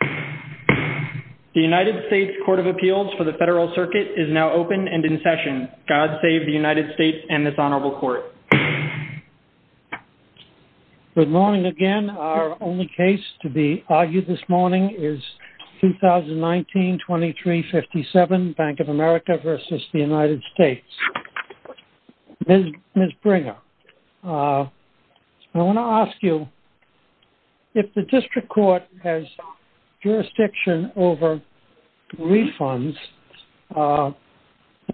The United States Court of Appeals for the Federal Circuit is now open and in session. God save the United States and this Honorable Court. Good morning again. Our only case to be argued this morning is 2019-2357 Bank of America v. United States. Ms. Bringer, I want to ask you, if the District Court has jurisdiction over refunds,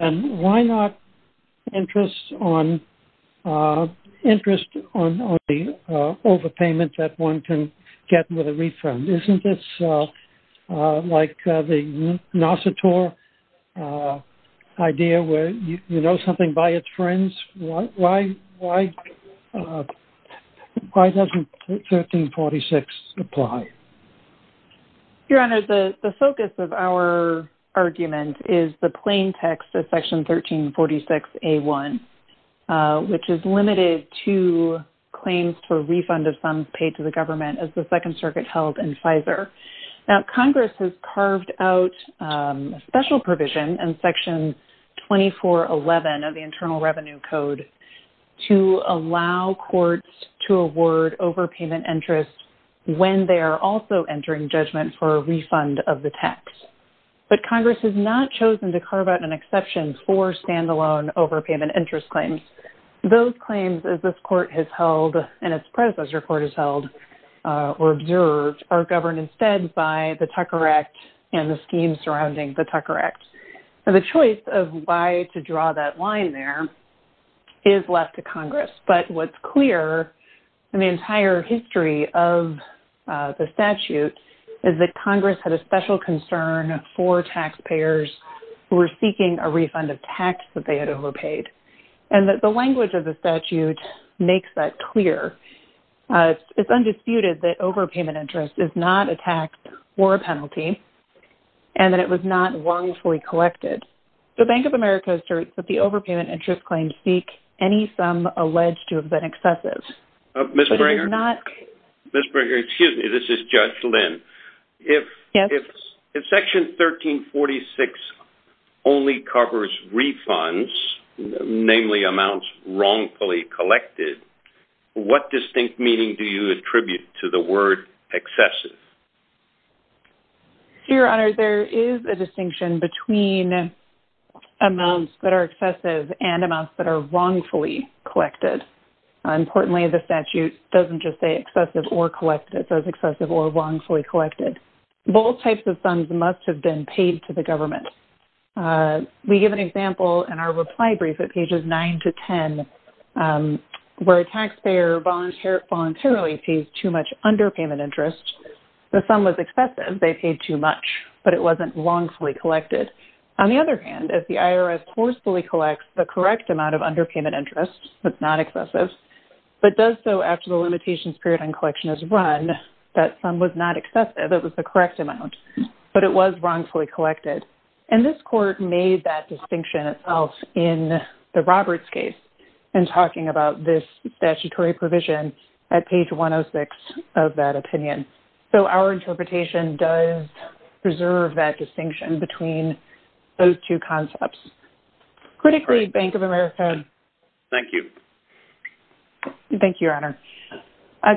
then why not interest on the overpayment that one can get with a refund? Isn't this like the Nassau tour idea where you know something by its friends? Why doesn't 1346 apply? Your Honor, the focus of our argument is the plain text of Section 1346A1, which is limited to claims for refund of sums paid to the government as the Second Circuit held in FISA. Now Congress has carved out a special provision in Section 2411 of the Internal Revenue Code to allow courts to award overpayment interest when they are also entering judgment for a refund of the tax. But Congress has not chosen to carve out an exception for standalone overpayment interest claims. Those claims as this Court has held and its predecessor Court has held or observed are governed instead by the Tucker Act and the schemes surrounding the Tucker Act. Now the choice of why to draw that line there is left to Congress. But what's clear in the entire history of the statute is that Congress had a special concern for taxpayers who were seeking a refund of tax that they had overpaid. And that the language of the statute makes that clear. It's undisputed that overpayment interest is not a tax or a penalty and that it was not wrongfully collected. The Bank of America asserts that the overpayment interest claims seek any sum alleged to have been excessive. Ms. Bringer. But it is not... Ms. Bringer, excuse me. This is Judge Lynn. Yes. If Section 1346 only covers refunds, namely amounts wrongfully collected, what distinct meaning do you attribute to the word excessive? Your Honor, there is a distinction between amounts that are excessive and amounts that are wrongfully collected. Importantly, the statute doesn't just say excessive or collected. It says excessive or wrongfully collected. Both types of funds must have been paid to the government. We give an example in our reply brief at pages 9 to 10 where a taxpayer voluntarily pays too much underpayment interest. The sum was excessive. They paid too much, but it wasn't wrongfully collected. On the other hand, as the IRS forcefully collects the correct amount of underpayment interest that's not excessive, but does so after the limitations period on collection is run, that sum was not excessive. It was the correct amount, but it was wrongfully collected. And this court made that distinction itself in the Roberts case in talking about this statutory provision at page 106 of that opinion. So our interpretation does preserve that distinction between those two concepts. Critically, Bank of America... Thank you. Thank you, Your Honor.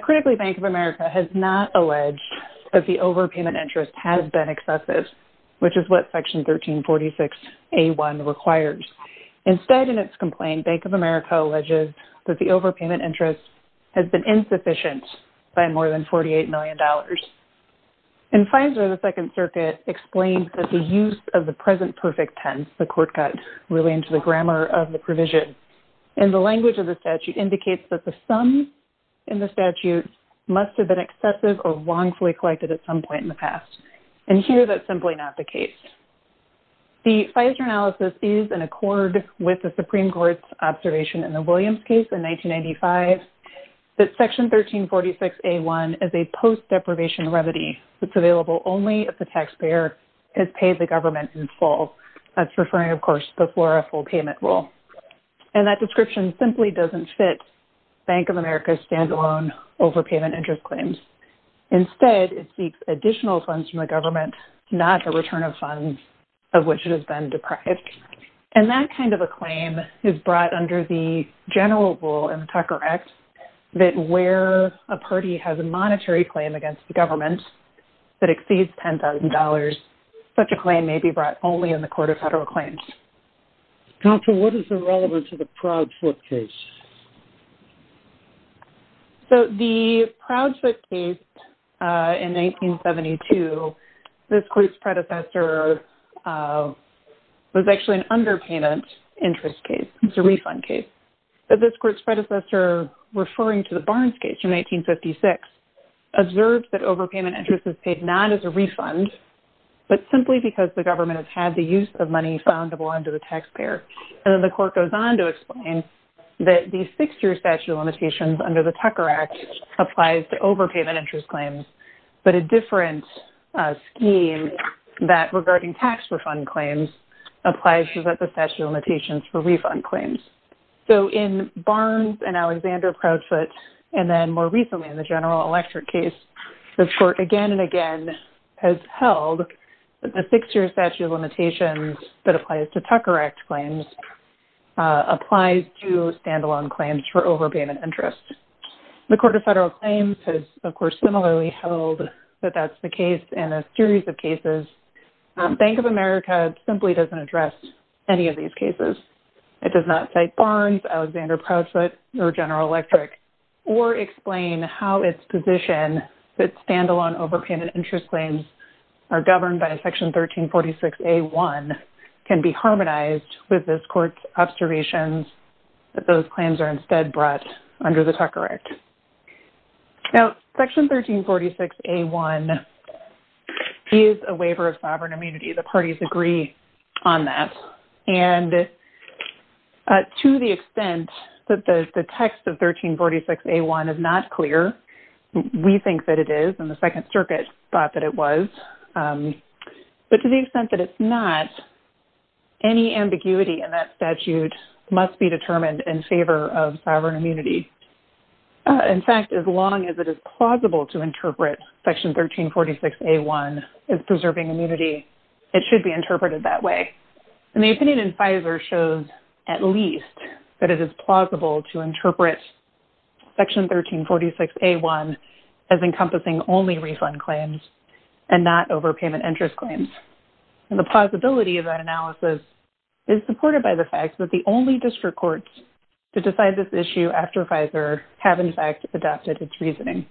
Critically, Bank of America has not alleged that the overpayment interest has been excessive, which is what Section 1346A1 requires. Instead, in its complaint, Bank of America alleges that the overpayment interest has been insufficient by more than $48 million. In FISA, the Second Circuit explains that the use of the present perfect tense, the court got really into the grammar of the provision. And the language of the statute indicates that the sum in the statute must have been excessive or wrongfully collected at some point in the past. And here, that's simply not the case. The FISA analysis is in Supreme Court's observation in the Williams case in 1995, that Section 1346A1 is a post-deprivation remedy that's available only if the taxpayer has paid the government in full. That's referring, of course, before a full payment rule. And that description simply doesn't fit Bank of America's standalone overpayment interest claims. Instead, it seeks additional funds from the government, not a return of funds of which it has been deprived. And that kind of a claim is brought under the general rule in the Tucker Act that where a party has a monetary claim against the government that exceeds $10,000, such a claim may be brought only in the Court of Federal Claims. Counsel, what is the relevance of the Proudfoot case? So, the Proudfoot case in 1972, this court's predecessor was actually an underpayment interest case. It's a refund case. But this court's predecessor, referring to the Barnes case in 1956, observed that overpayment interest is paid not as a refund, but simply because the government has had the use of money found under the taxpayer. And then the court goes on to explain that the six-year statute of limitations under the Tucker Act applies to overpayment interest claims, but a different scheme that regarding tax refund claims applies to the statute of limitations for refund claims. So, in Barnes and Alexander Proudfoot, and then more recently in the General Electric case, the court again and again has held that the six-year statute of limitations that applies to Tucker Act claims applies to standalone claims for overpayment interest. The Court of Federal Claims has, of course, similarly held that that's the case in a series of cases. Bank of America simply doesn't address any of these cases. It does not cite Barnes, Alexander Proudfoot, or General Electric, or explain how its position that standalone overpayment interest claims are governed by Section 1346A1 can be harmonized with this court's observations that those claims are instead brought under the Tucker Act. Now, Section 1346A1 is a waiver of sovereign immunity. The parties agree on that. And to the extent that the text of it was, but to the extent that it's not, any ambiguity in that statute must be determined in favor of sovereign immunity. In fact, as long as it is plausible to interpret Section 1346A1 as preserving immunity, it should be interpreted that way. And the opinion in FISA shows at least that it is plausible to interpret Section 1346A1 as encompassing only refund claims and not overpayment interest claims. And the plausibility of that analysis is supported by the fact that the only district courts to decide this issue after FISA have, in fact, adopted its reasoning.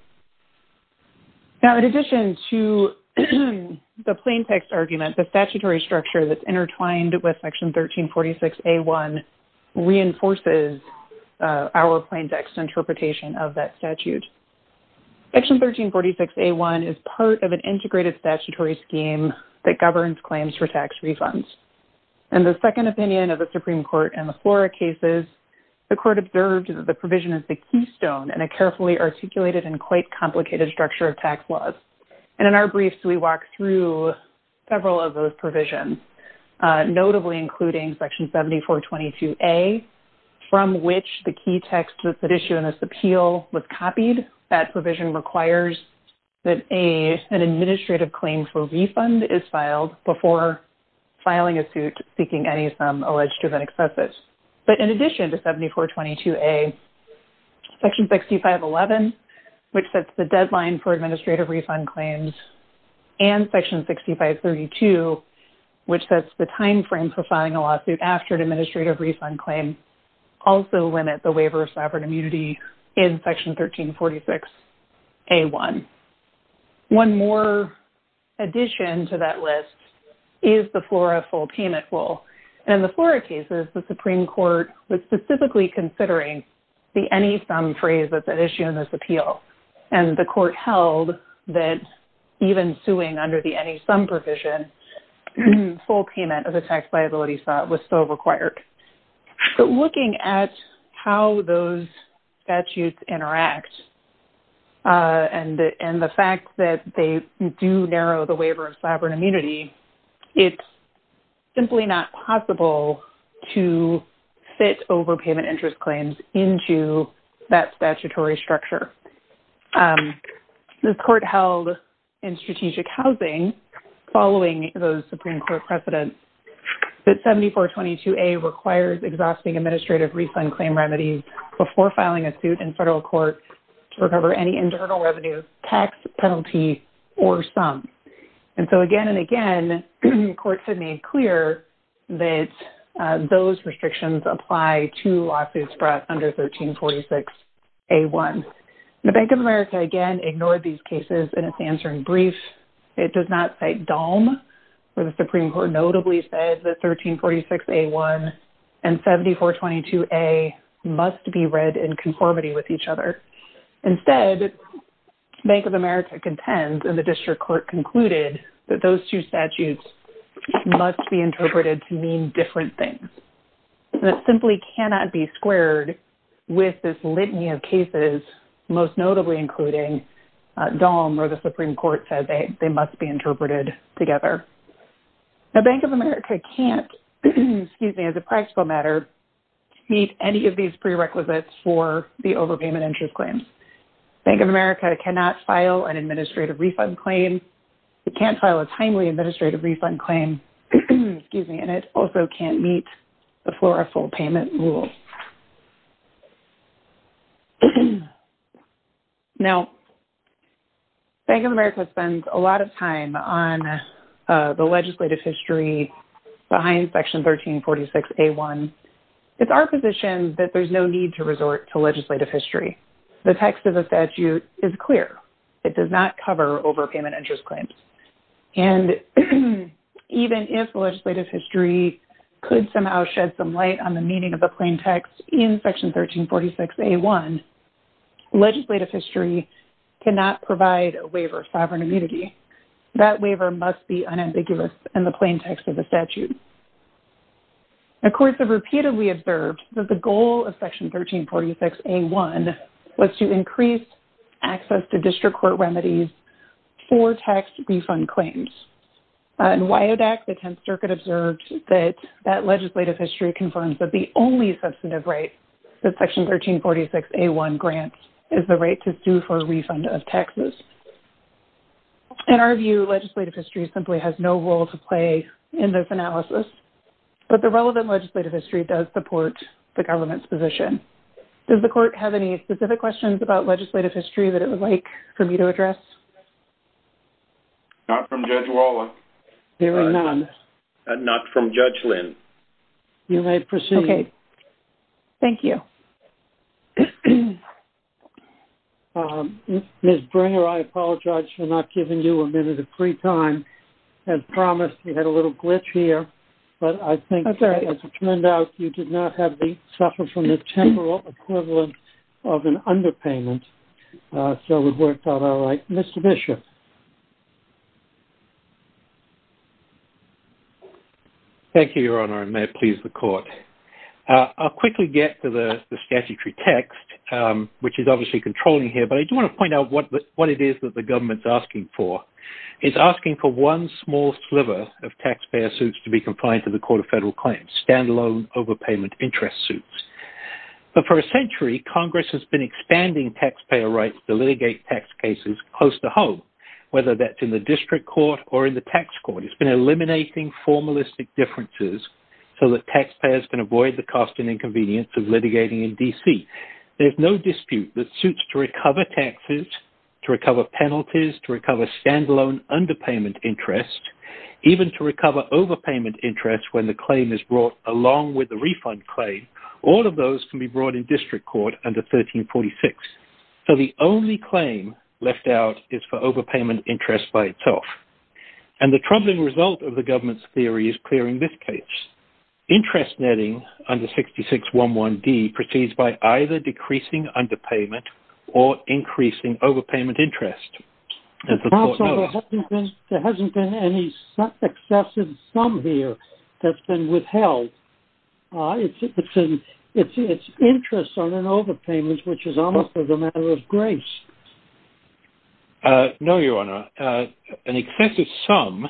Now, in addition to the plain text argument, the statutory structure that's intertwined with Section 1346A1 reinforces our plain text interpretation of that statute. Section 1346A1 is part of an integrated statutory scheme that governs claims for tax refunds. And the second opinion of the Supreme Court in the Flora cases, the court observed that the provision is the keystone and a carefully articulated and quite complicated structure of tax laws. And in our including Section 7422A, from which the key text that's at issue in this appeal was copied, that provision requires that an administrative claim for refund is filed before filing a suit seeking any sum alleged to have been excessive. But in addition to 7422A, Section 6511, which sets the deadline for administrative refund claims, and Section 6532, which sets the time for filing a lawsuit after an administrative refund claim, also limit the waiver of sovereign immunity in Section 1346A1. One more addition to that list is the Flora full payment rule. In the Flora cases, the Supreme Court was specifically considering the any sum phrase that's at issue in this appeal. And the court held that even suing under the any sum provision, full payment of the tax liability was still required. But looking at how those statutes interact, and the fact that they do narrow the waiver of sovereign immunity, it's simply not possible to fit overpayment interest claims into that statutory structure. The court held in strategic housing, following those Supreme Court precedents, that 7422A requires exhausting administrative refund claim remedies before filing a suit in federal court to recover any internal revenue, tax penalty, or sum. And so again, and again, courts have made clear that those restrictions apply to lawsuits brought under 1346A1. The Bank of America again ignored these cases in its answering brief. It does not cite DALM, where the Supreme Court notably said that 1346A1 and 7422A must be read in conformity with each other. Instead, Bank of America contends, and the district court concluded, that those two statutes must be interpreted to mean different things. And it simply cannot be squared with this litany of cases, most notably including DALM, where the Supreme Court said they must be interpreted together. The Bank of America can't, excuse me, as a practical matter, meet any of these prerequisites for the overpayment interest claims. Bank of America cannot file an administrative refund claim, excuse me, and it also can't meet the floor full payment rule. Now, Bank of America spends a lot of time on the legislative history behind section 1346A1. It's our position that there's no need to resort to legislative history. The text of the statute is clear. It does not cover overpayment interest claims. And even if legislative history could somehow shed some light on the meaning of the plain text in section 1346A1, legislative history cannot provide a waiver of sovereign immunity. That waiver must be unambiguous in the plain text of the statute. The courts have repeatedly observed that the increased access to district court remedies for tax refund claims. In WIODAC, the 10th Circuit observed that that legislative history confirms that the only substantive right that section 1346A1 grants is the right to sue for a refund of taxes. In our view, legislative history simply has no role to play in this analysis. But the relevant legislative history does support the government's position. Does the court have any specific questions about legislative history that it would like for me to address? Not from Judge Walla. Hearing none. Not from Judge Lynn. You may proceed. Thank you. Ms. Bringer, I apologize for not giving you a minute of free time. As promised, we had a little glitch here. But I think as it turned out, you did not have to suffer from the temporal equivalent of an underpayment. So we've worked out all right. Mr. Bishop. Thank you, Your Honor. And may it please the court. I'll quickly get to the statutory text, which is obviously controlling here. But I do want to point out what it is that the government's asking for. It's asking for one small sliver of taxpayer suits to be compliant to the Court of Appeals. But for a century, Congress has been expanding taxpayer rights to litigate tax cases close to home, whether that's in the district court or in the tax court. It's been eliminating formalistic differences so that taxpayers can avoid the cost and inconvenience of litigating in D.C. There's no dispute that suits to recover taxes, to recover penalties, to recover standalone underpayment interest, even to recover overpayment interest when the claim is brought along with the be brought in district court under 1346. So the only claim left out is for overpayment interest by itself. And the troubling result of the government's theory is clearing this case. Interest netting under 6611D proceeds by either decreasing underpayment or increasing overpayment interest. There hasn't been any excessive sum here that's been withheld. It's an interest on an overpayment, which is almost as a matter of grace. No, Your Honor. An excessive sum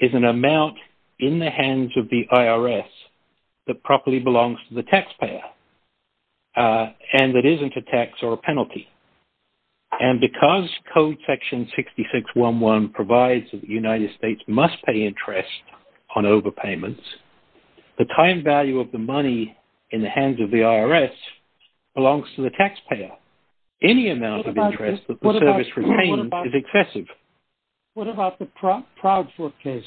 is an amount in the hands of the IRS that properly belongs to the taxpayer and that isn't a tax or a penalty. And because Code Section 6611 provides that the time value of the money in the hands of the IRS belongs to the taxpayer, any amount of interest that the service retains is excessive. What about the Proudfoot case?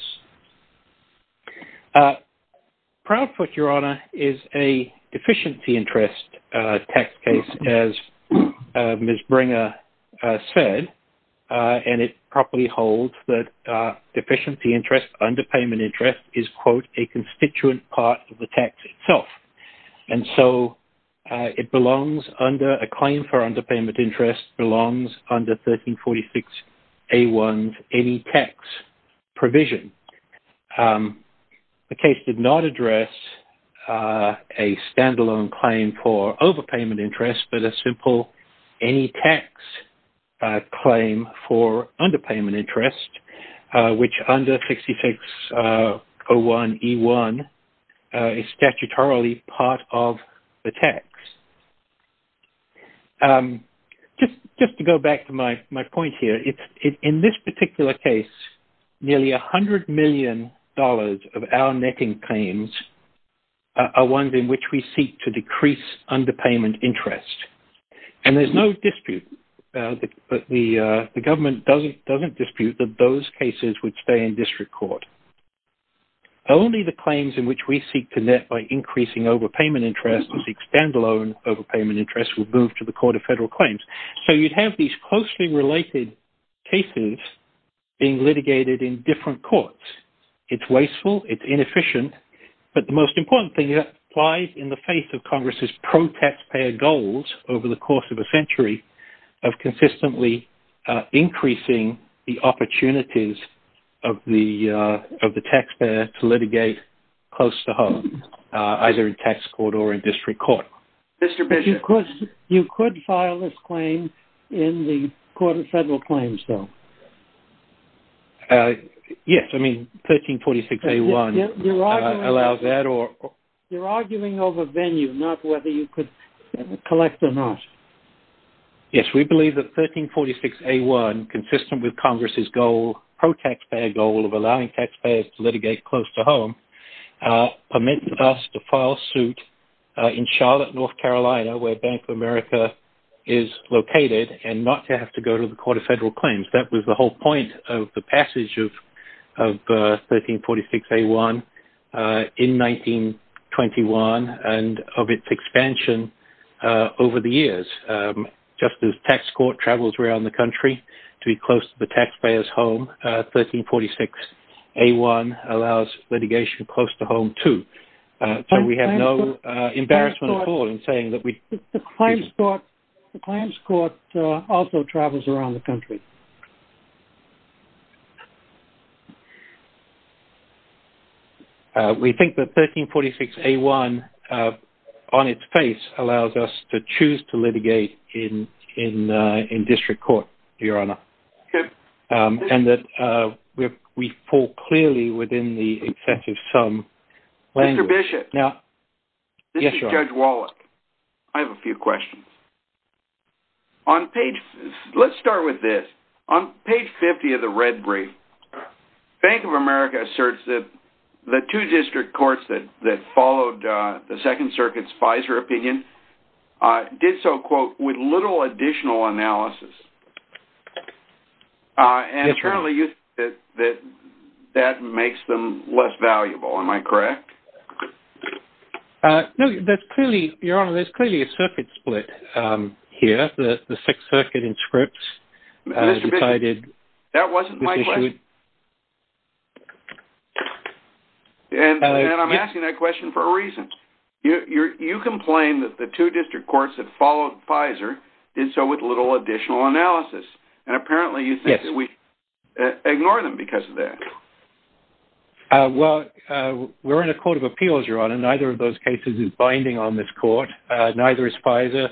Proudfoot, Your Honor, is a deficiency interest tax case, as Ms. Bringer said, and it properly holds that deficiency interest underpayment interest is, quote, a constituent part of the tax itself. And so it belongs under a claim for underpayment interest belongs under 1346A1 any tax provision. The case did not address a standalone claim for underpayment interest, which under 6601E1 is statutorily part of the tax. Just to go back to my point here, in this particular case, nearly $100 million of our netting claims are ones in which we seek to decrease underpayment interest. And there's no dispute. The government doesn't dispute that those cases would stay in district court. Only the claims in which we seek to net by increasing overpayment interest and seek standalone overpayment interest will move to the Court of Federal Claims. So you'd have these closely related cases being litigated in different courts. It's wasteful, it's inefficient. But the most important thing that applies in the face of Congress's pro-taxpayer goals over the course of a century of consistently increasing the opportunities of the taxpayer to litigate close to home, either in tax court or in district court. Mr. Bishop, you could file this claim in the Court of Federal Claims, though. Yes, I mean, 1346A1 allows that or... You're arguing over venue, not whether you could collect or not. Yes, we believe that 1346A1, consistent with Congress's goal, pro-taxpayer goal of allowing taxpayers to litigate close to home, permits us to file suit in Charlotte, North Carolina, where Bank of America is located, and not to have to go to the Court of Federal Claims. That was the whole point of the passage of 1346A1 in 1921, and of its expansion over the years. Just as tax court travels around the country to be close to the taxpayer's home, 1346A1 allows litigation close to home, too. So we have no embarrassment at all in saying that we... The Claims Court also travels around the country. We think that 1346A1, on its face, allows us to choose to litigate in district court, Your Honor, and that we fall clearly within the excessive sum language. Mr. Bishop, this is Judge Wallach. I have a few questions. Let's start with this. On page 50 of the red brief, Bank of America asserts that the two district courts that followed the Second Circuit's FISA opinion did so, quote, with little additional analysis. And, certainly, you said that that makes them less valuable. Am I correct? No, Your Honor, there's clearly a circuit split here. The Sixth Circuit in Scripps decided... Mr. Bishop, that wasn't my question. And I'm asking that question for a reason. You complain that the two district courts that followed FISA did so with little additional analysis. And, apparently, you think that we ignore them because of that. Well, we're in a court of appeals, Your Honor, and neither of those cases is binding on this court. Neither is FISA,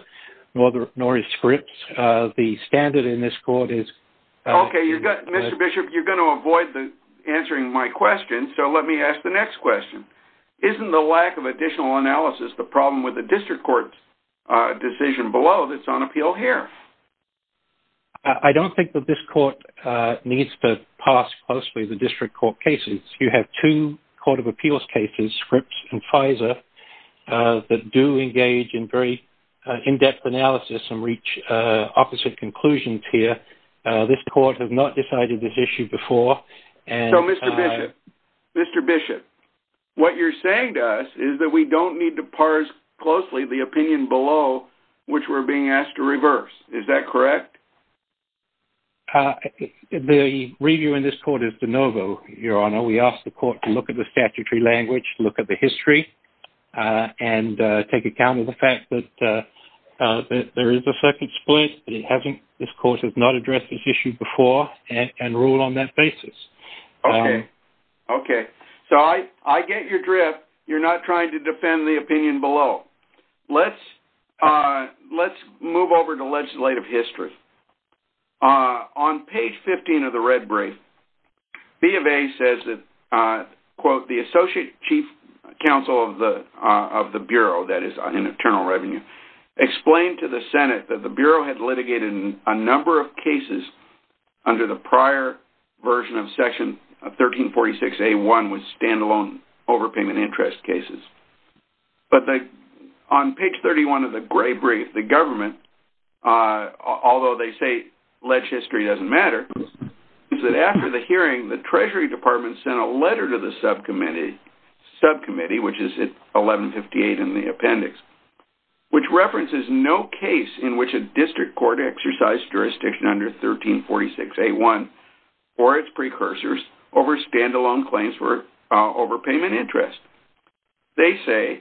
nor is Scripps. The standard in this court is... Okay, you've got... Mr. Bishop, you're going to avoid answering my question, so let me ask the next question. Isn't the lack of additional analysis the problem with the district court's decision below that's on appeal here? I don't think that this court needs to pass closely the district court cases. You have two court of appeals cases, Scripps and FISA, that do engage in very in-depth analysis and reach opposite conclusions here. This court has not decided this issue before, and... So, Mr. Bishop, Mr. Bishop, what you're saying to us is that we don't need to parse closely the opinion below which we're being asked to reverse. Is that correct? The review in this court is de novo, Your Honor. We ask the court to look at the statutory language, look at the history, and take account of the fact that there is a second split, but it hasn't... This court has not addressed this issue before, and rule on that basis. Okay. Okay. So, I get your drift. You're not trying to defend the opinion below. Let's move over to legislative history. On page 15 of the red brief, B of A says that, quote, the associate chief counsel of the Bureau, that is in Internal Revenue, explained to the Senate that the Bureau had litigated a number of cases under the prior version of Section 1346A1 with stand-alone overpayment interest cases. But on page 31 of the gray brief, the government, although they say legislature doesn't matter, is that after the hearing, the Treasury Department sent a letter to the subcommittee, which is at 1158 in the appendix, which references no case in which a district court exercised jurisdiction under 1346A1 or its precursors over stand-alone claims for overpayment interest. They say,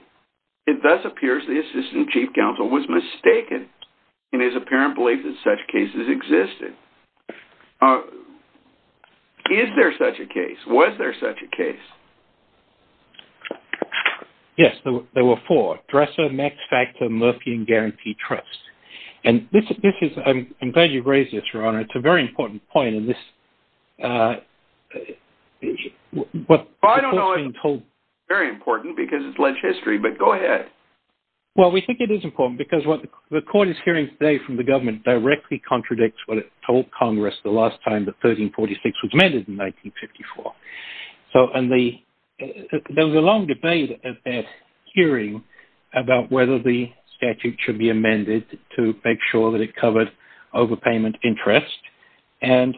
it thus appears the assistant chief counsel was mistaken in his apparent belief that such cases existed. Is there such a case? Was there such a case? Yes, there were four. Dresser, Max Factor, Murphy, and Guarantee Trust. And this is, I'm glad you've raised this, Your Honor. It's a very important point in this. Well, I don't know if it's very important because it's legislature, but go ahead. Well, we think it is important because what the court is hearing today from the government directly contradicts what it told Congress the last time that 1346 was amended in 1954. So, and there was a long debate at that hearing about whether the statute should be amended to make sure that it covered overpayment interest. And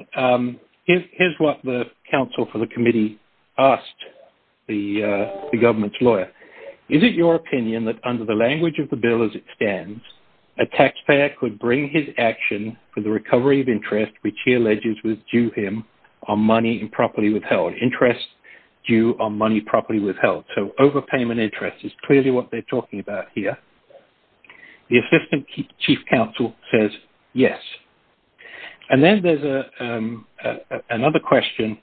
here's what the counsel for the committee asked the government's lawyer. Is it your opinion that under the language of the bill as it stands, a taxpayer could bring his action for the recovery of interest, which he alleges was due him on money improperly withheld. Interest due on money properly withheld. So, overpayment interest is clearly what they're talking about here. The assistant chief counsel says yes. And then there's another question.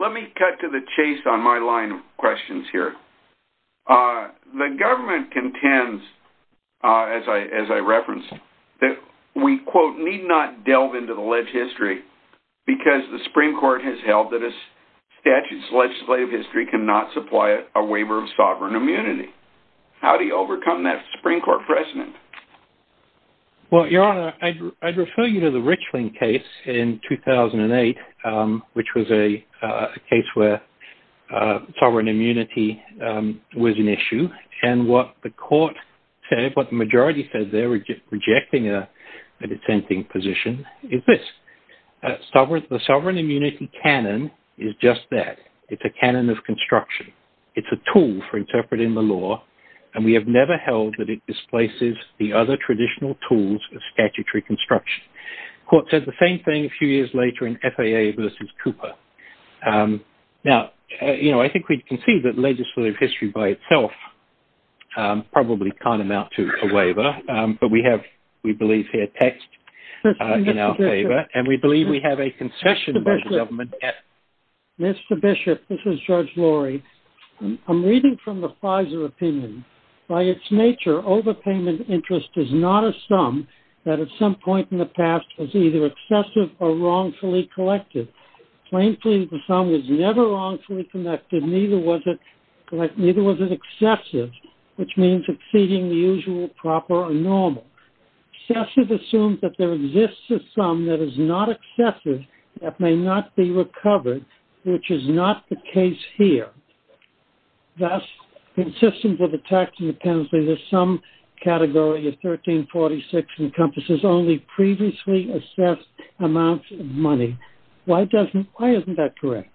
Let me cut to the chase on my line of questions here. The government contends, as I referenced, that we, quote, need not delve into the leg history because the Supreme Court has held that a statute's legislative history cannot supply a waiver of sovereign immunity. How do you overcome that Supreme Court precedent? Well, your honor, I'd refer you to the Richland case in 2008, which was a case where sovereign immunity was an issue. And what the court said, what the majority said, they're rejecting a dissenting position is this. Sovereign immunity canon is just that. It's a canon of construction. It's a tool for interpreting the law. And we have never held that it displaces the other traditional tools of statutory construction. Court said the same thing a few years later in FAA versus Cooper. Now, you know, I think we can see that legislative history by itself probably can't amount to a waiver. But we have, we believe here, text in our favor. And we believe we have a concession by the government. Mr. Bishop, this is George Laurie. I'm reading from the Pfizer opinion. By its nature, overpayment interest is not a sum that at some point in the past was either excessive or wrongfully connected. Neither was it excessive, which means exceeding the usual, proper, or normal. Excessive assumes that there exists a sum that is not excessive that may not be recovered, which is not the case here. Thus, consistent with the text in the penalty, the sum category of 1346 encompasses only previously assessed amounts of money. Why doesn't, why isn't that correct?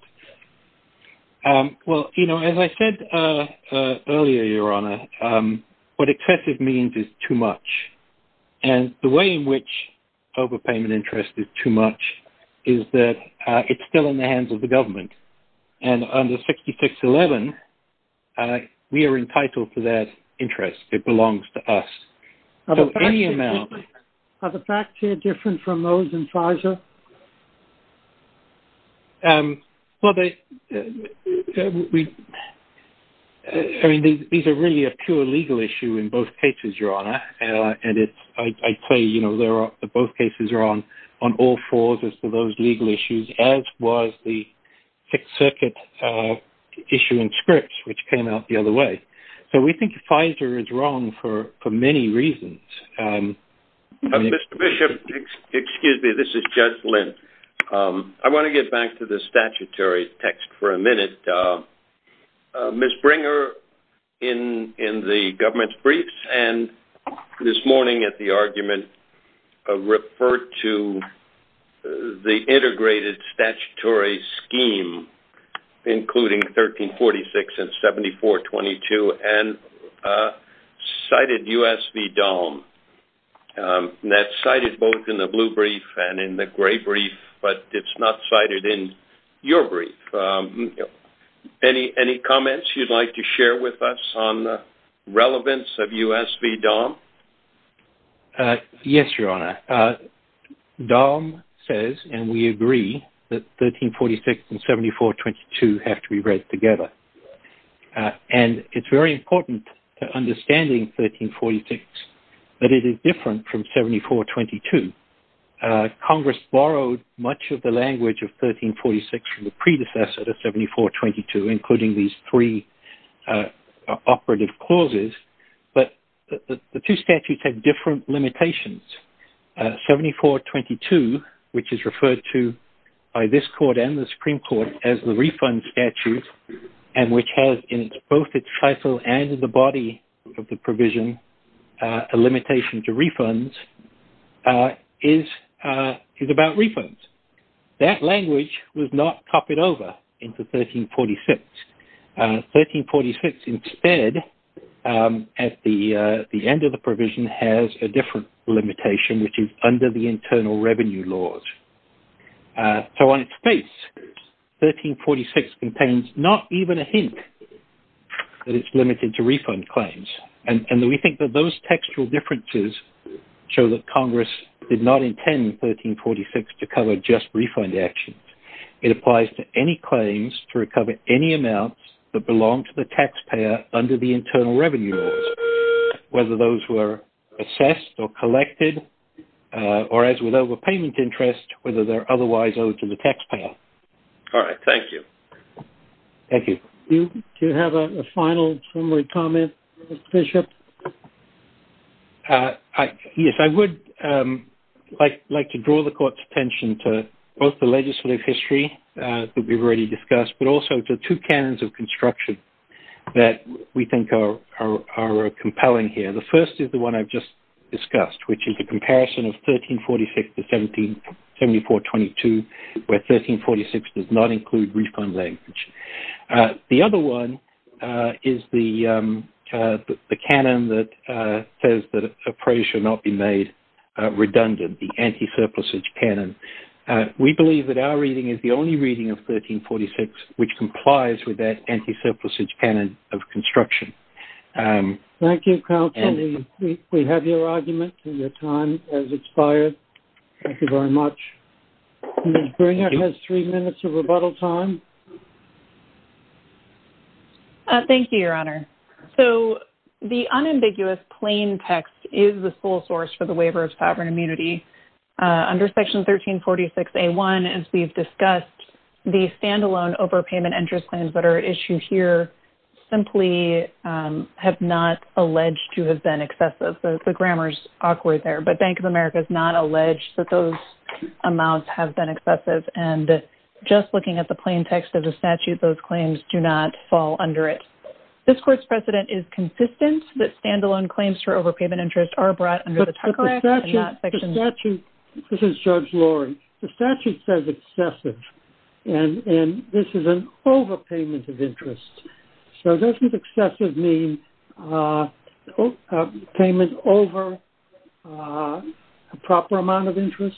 Well, you know, as I said earlier, Your Honor, what excessive means is too much. And the way in which overpayment interest is too much is that it's still in the hands of the government. And under 6611, we are entitled to that interest. It belongs to us. Are the facts here different from those in Pfizer? Um, well, I mean, these are really a pure legal issue in both cases, Your Honor. And it's, I'd say, you know, there are, both cases are on, on all fours as to those legal issues, as was the Sixth Circuit issue in Scripps, which came out the other way. So we think Pfizer is wrong for, for many reasons. Mr. Bishop, excuse me, this is Judge Linn. I want to get back to the statutory text for a minute. Ms. Bringer, in, in the government's briefs and this morning at the argument, referred to the integrated statutory scheme, including 1346 and 7422, and cited U.S. v. DOM. That's cited both in the blue brief and in the gray brief, but it's not cited in your brief. Any, any comments you'd like to share with us on the relevance of U.S. v. DOM? Yes, Your Honor. DOM says, and we agree that 1346 and 7422 have to integrate together. And it's very important to understanding 1346, that it is different from 7422. Congress borrowed much of the language of 1346 from the predecessor to 7422, including these three operative clauses. But the two statutes have different limitations. 7422, which is referred to by this Court and the Supreme Court as the refund statute, and which has in both its title and in the body of the provision, a limitation to refunds, is, is about refunds. That language was not copied over into 1346. 1346 instead, at the end of the provision, has a different limitation, which is under the internal revenue laws. So on its face, 1346 contains not even a hint that it's limited to refund claims. And we think that those textual differences show that Congress did not intend 1346 to cover just refund actions. It applies to any claims to recover any amounts that belong to the taxpayer under the internal revenue laws, whether those were assessed or collected, or as with overpayment interest, whether they're otherwise owed to the taxpayer. All right, thank you. Thank you. Do you have a final summary comment, Bishop? Yes, I would like to draw the Court's attention to both the legislative history that we've already discussed, but also to two canons of construction that we think are compelling here. The first is the one I've just discussed, which is the comparison of 1346 to 17422, where 1346 does not include refund language. The other one is the canon that says that appraisal should not be made redundant, the anti-surplusage canon. We believe that our reading is the only reading of 1346 which complies with that anti-surplusage canon of construction. Thank you, counsel. We have your argument and your time has expired. Thank you very much. Ms. Bringer has three minutes of rebuttal time. Thank you, Your Honor. So the unambiguous plain text is the sole source for the waiver of sovereign immunity. Under Section 1346A1, as we've discussed, the standalone overpayment interest claims that are issued here simply have not alleged to have been excessive. The grammar's awkward there, but Bank of America is not alleged that those amounts have been excessive. And just looking at the plain text of the statute, those claims do not fall under it. This Court's precedent is consistent that standalone claims for overpayment interest are brought under the statute. This is Judge Lori. The statute says excessive, and this is an overpayment of interest. So doesn't excessive mean a payment over a proper amount of interest?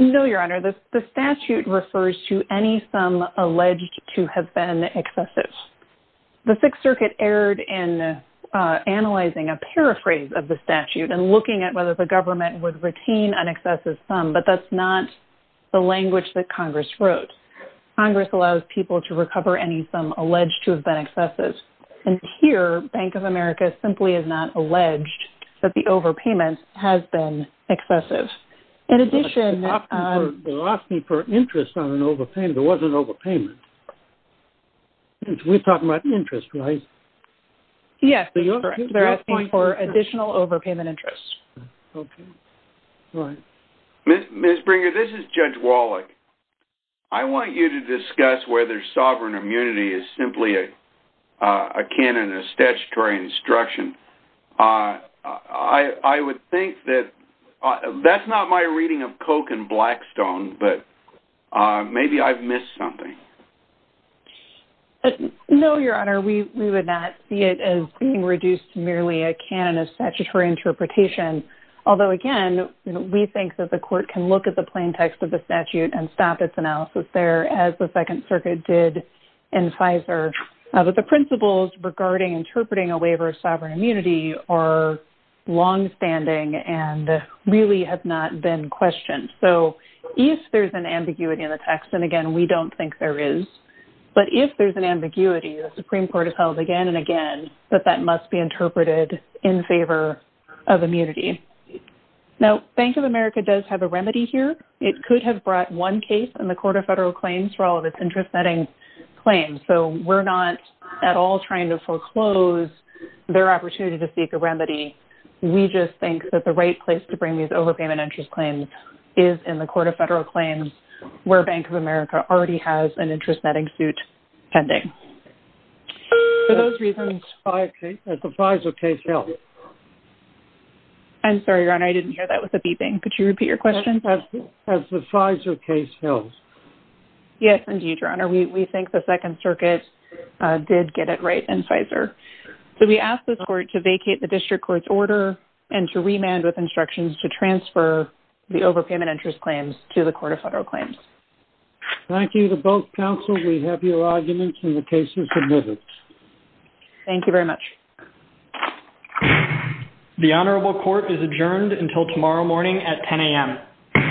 No, Your Honor. The statute refers to any sum alleged to have been excessive. The Sixth Circuit erred in analyzing a paraphrase of the statute and looking at whether the government would retain an excessive sum, but that's not the language that Congress wrote. Congress allows people to recover any sum alleged to have been excessive. And here, Bank of America simply has not alleged that the overpayment has been excessive. In addition... They're asking for interest on an overpayment. There was an overpayment. We're talking about interest, right? Yes. They're asking for additional overpayment interest. Okay. Ms. Bringer, this is Judge Wallach. I want you to discuss whether sovereign immunity is simply a canon of statutory instruction. I would think that... That's my reading of Coke and Blackstone, but maybe I've missed something. No, Your Honor. We would not see it as being reduced to merely a canon of statutory interpretation. Although again, we think that the court can look at the plain text of the statute and stop its analysis there as the Second Circuit did in FISA. But the principles regarding interpreting a waiver of sovereign immunity are longstanding and really have not been questioned. So if there's an ambiguity in the text, and again, we don't think there is, but if there's an ambiguity, the Supreme Court has held again and again that that must be interpreted in favor of immunity. Now, Bank of America does have a remedy here. It could have brought one case in the Court of Federal Claims for all of its interest-setting claims. So we're not at all trying to foreclose their opportunity to seek a remedy. We just think that the right place to bring these overpayment interest claims is in the Court of Federal Claims, where Bank of America already has an interest-setting suit pending. For those reasons, has the FISA case held? I'm sorry, Your Honor. I didn't hear that was a beeping. Could you repeat your question? Has the FISA case held? Yes, indeed, Your Honor. We think the Second Circuit did get it right in FISA. So we ask the Court to vacate the District Court's order and to remand with instructions to transfer the overpayment interest claims to the Court of Federal Claims. Thank you to both counsel. We have your arguments in the cases submitted. Thank you very much. The Honorable Court is adjourned until tomorrow morning at 10 a.m.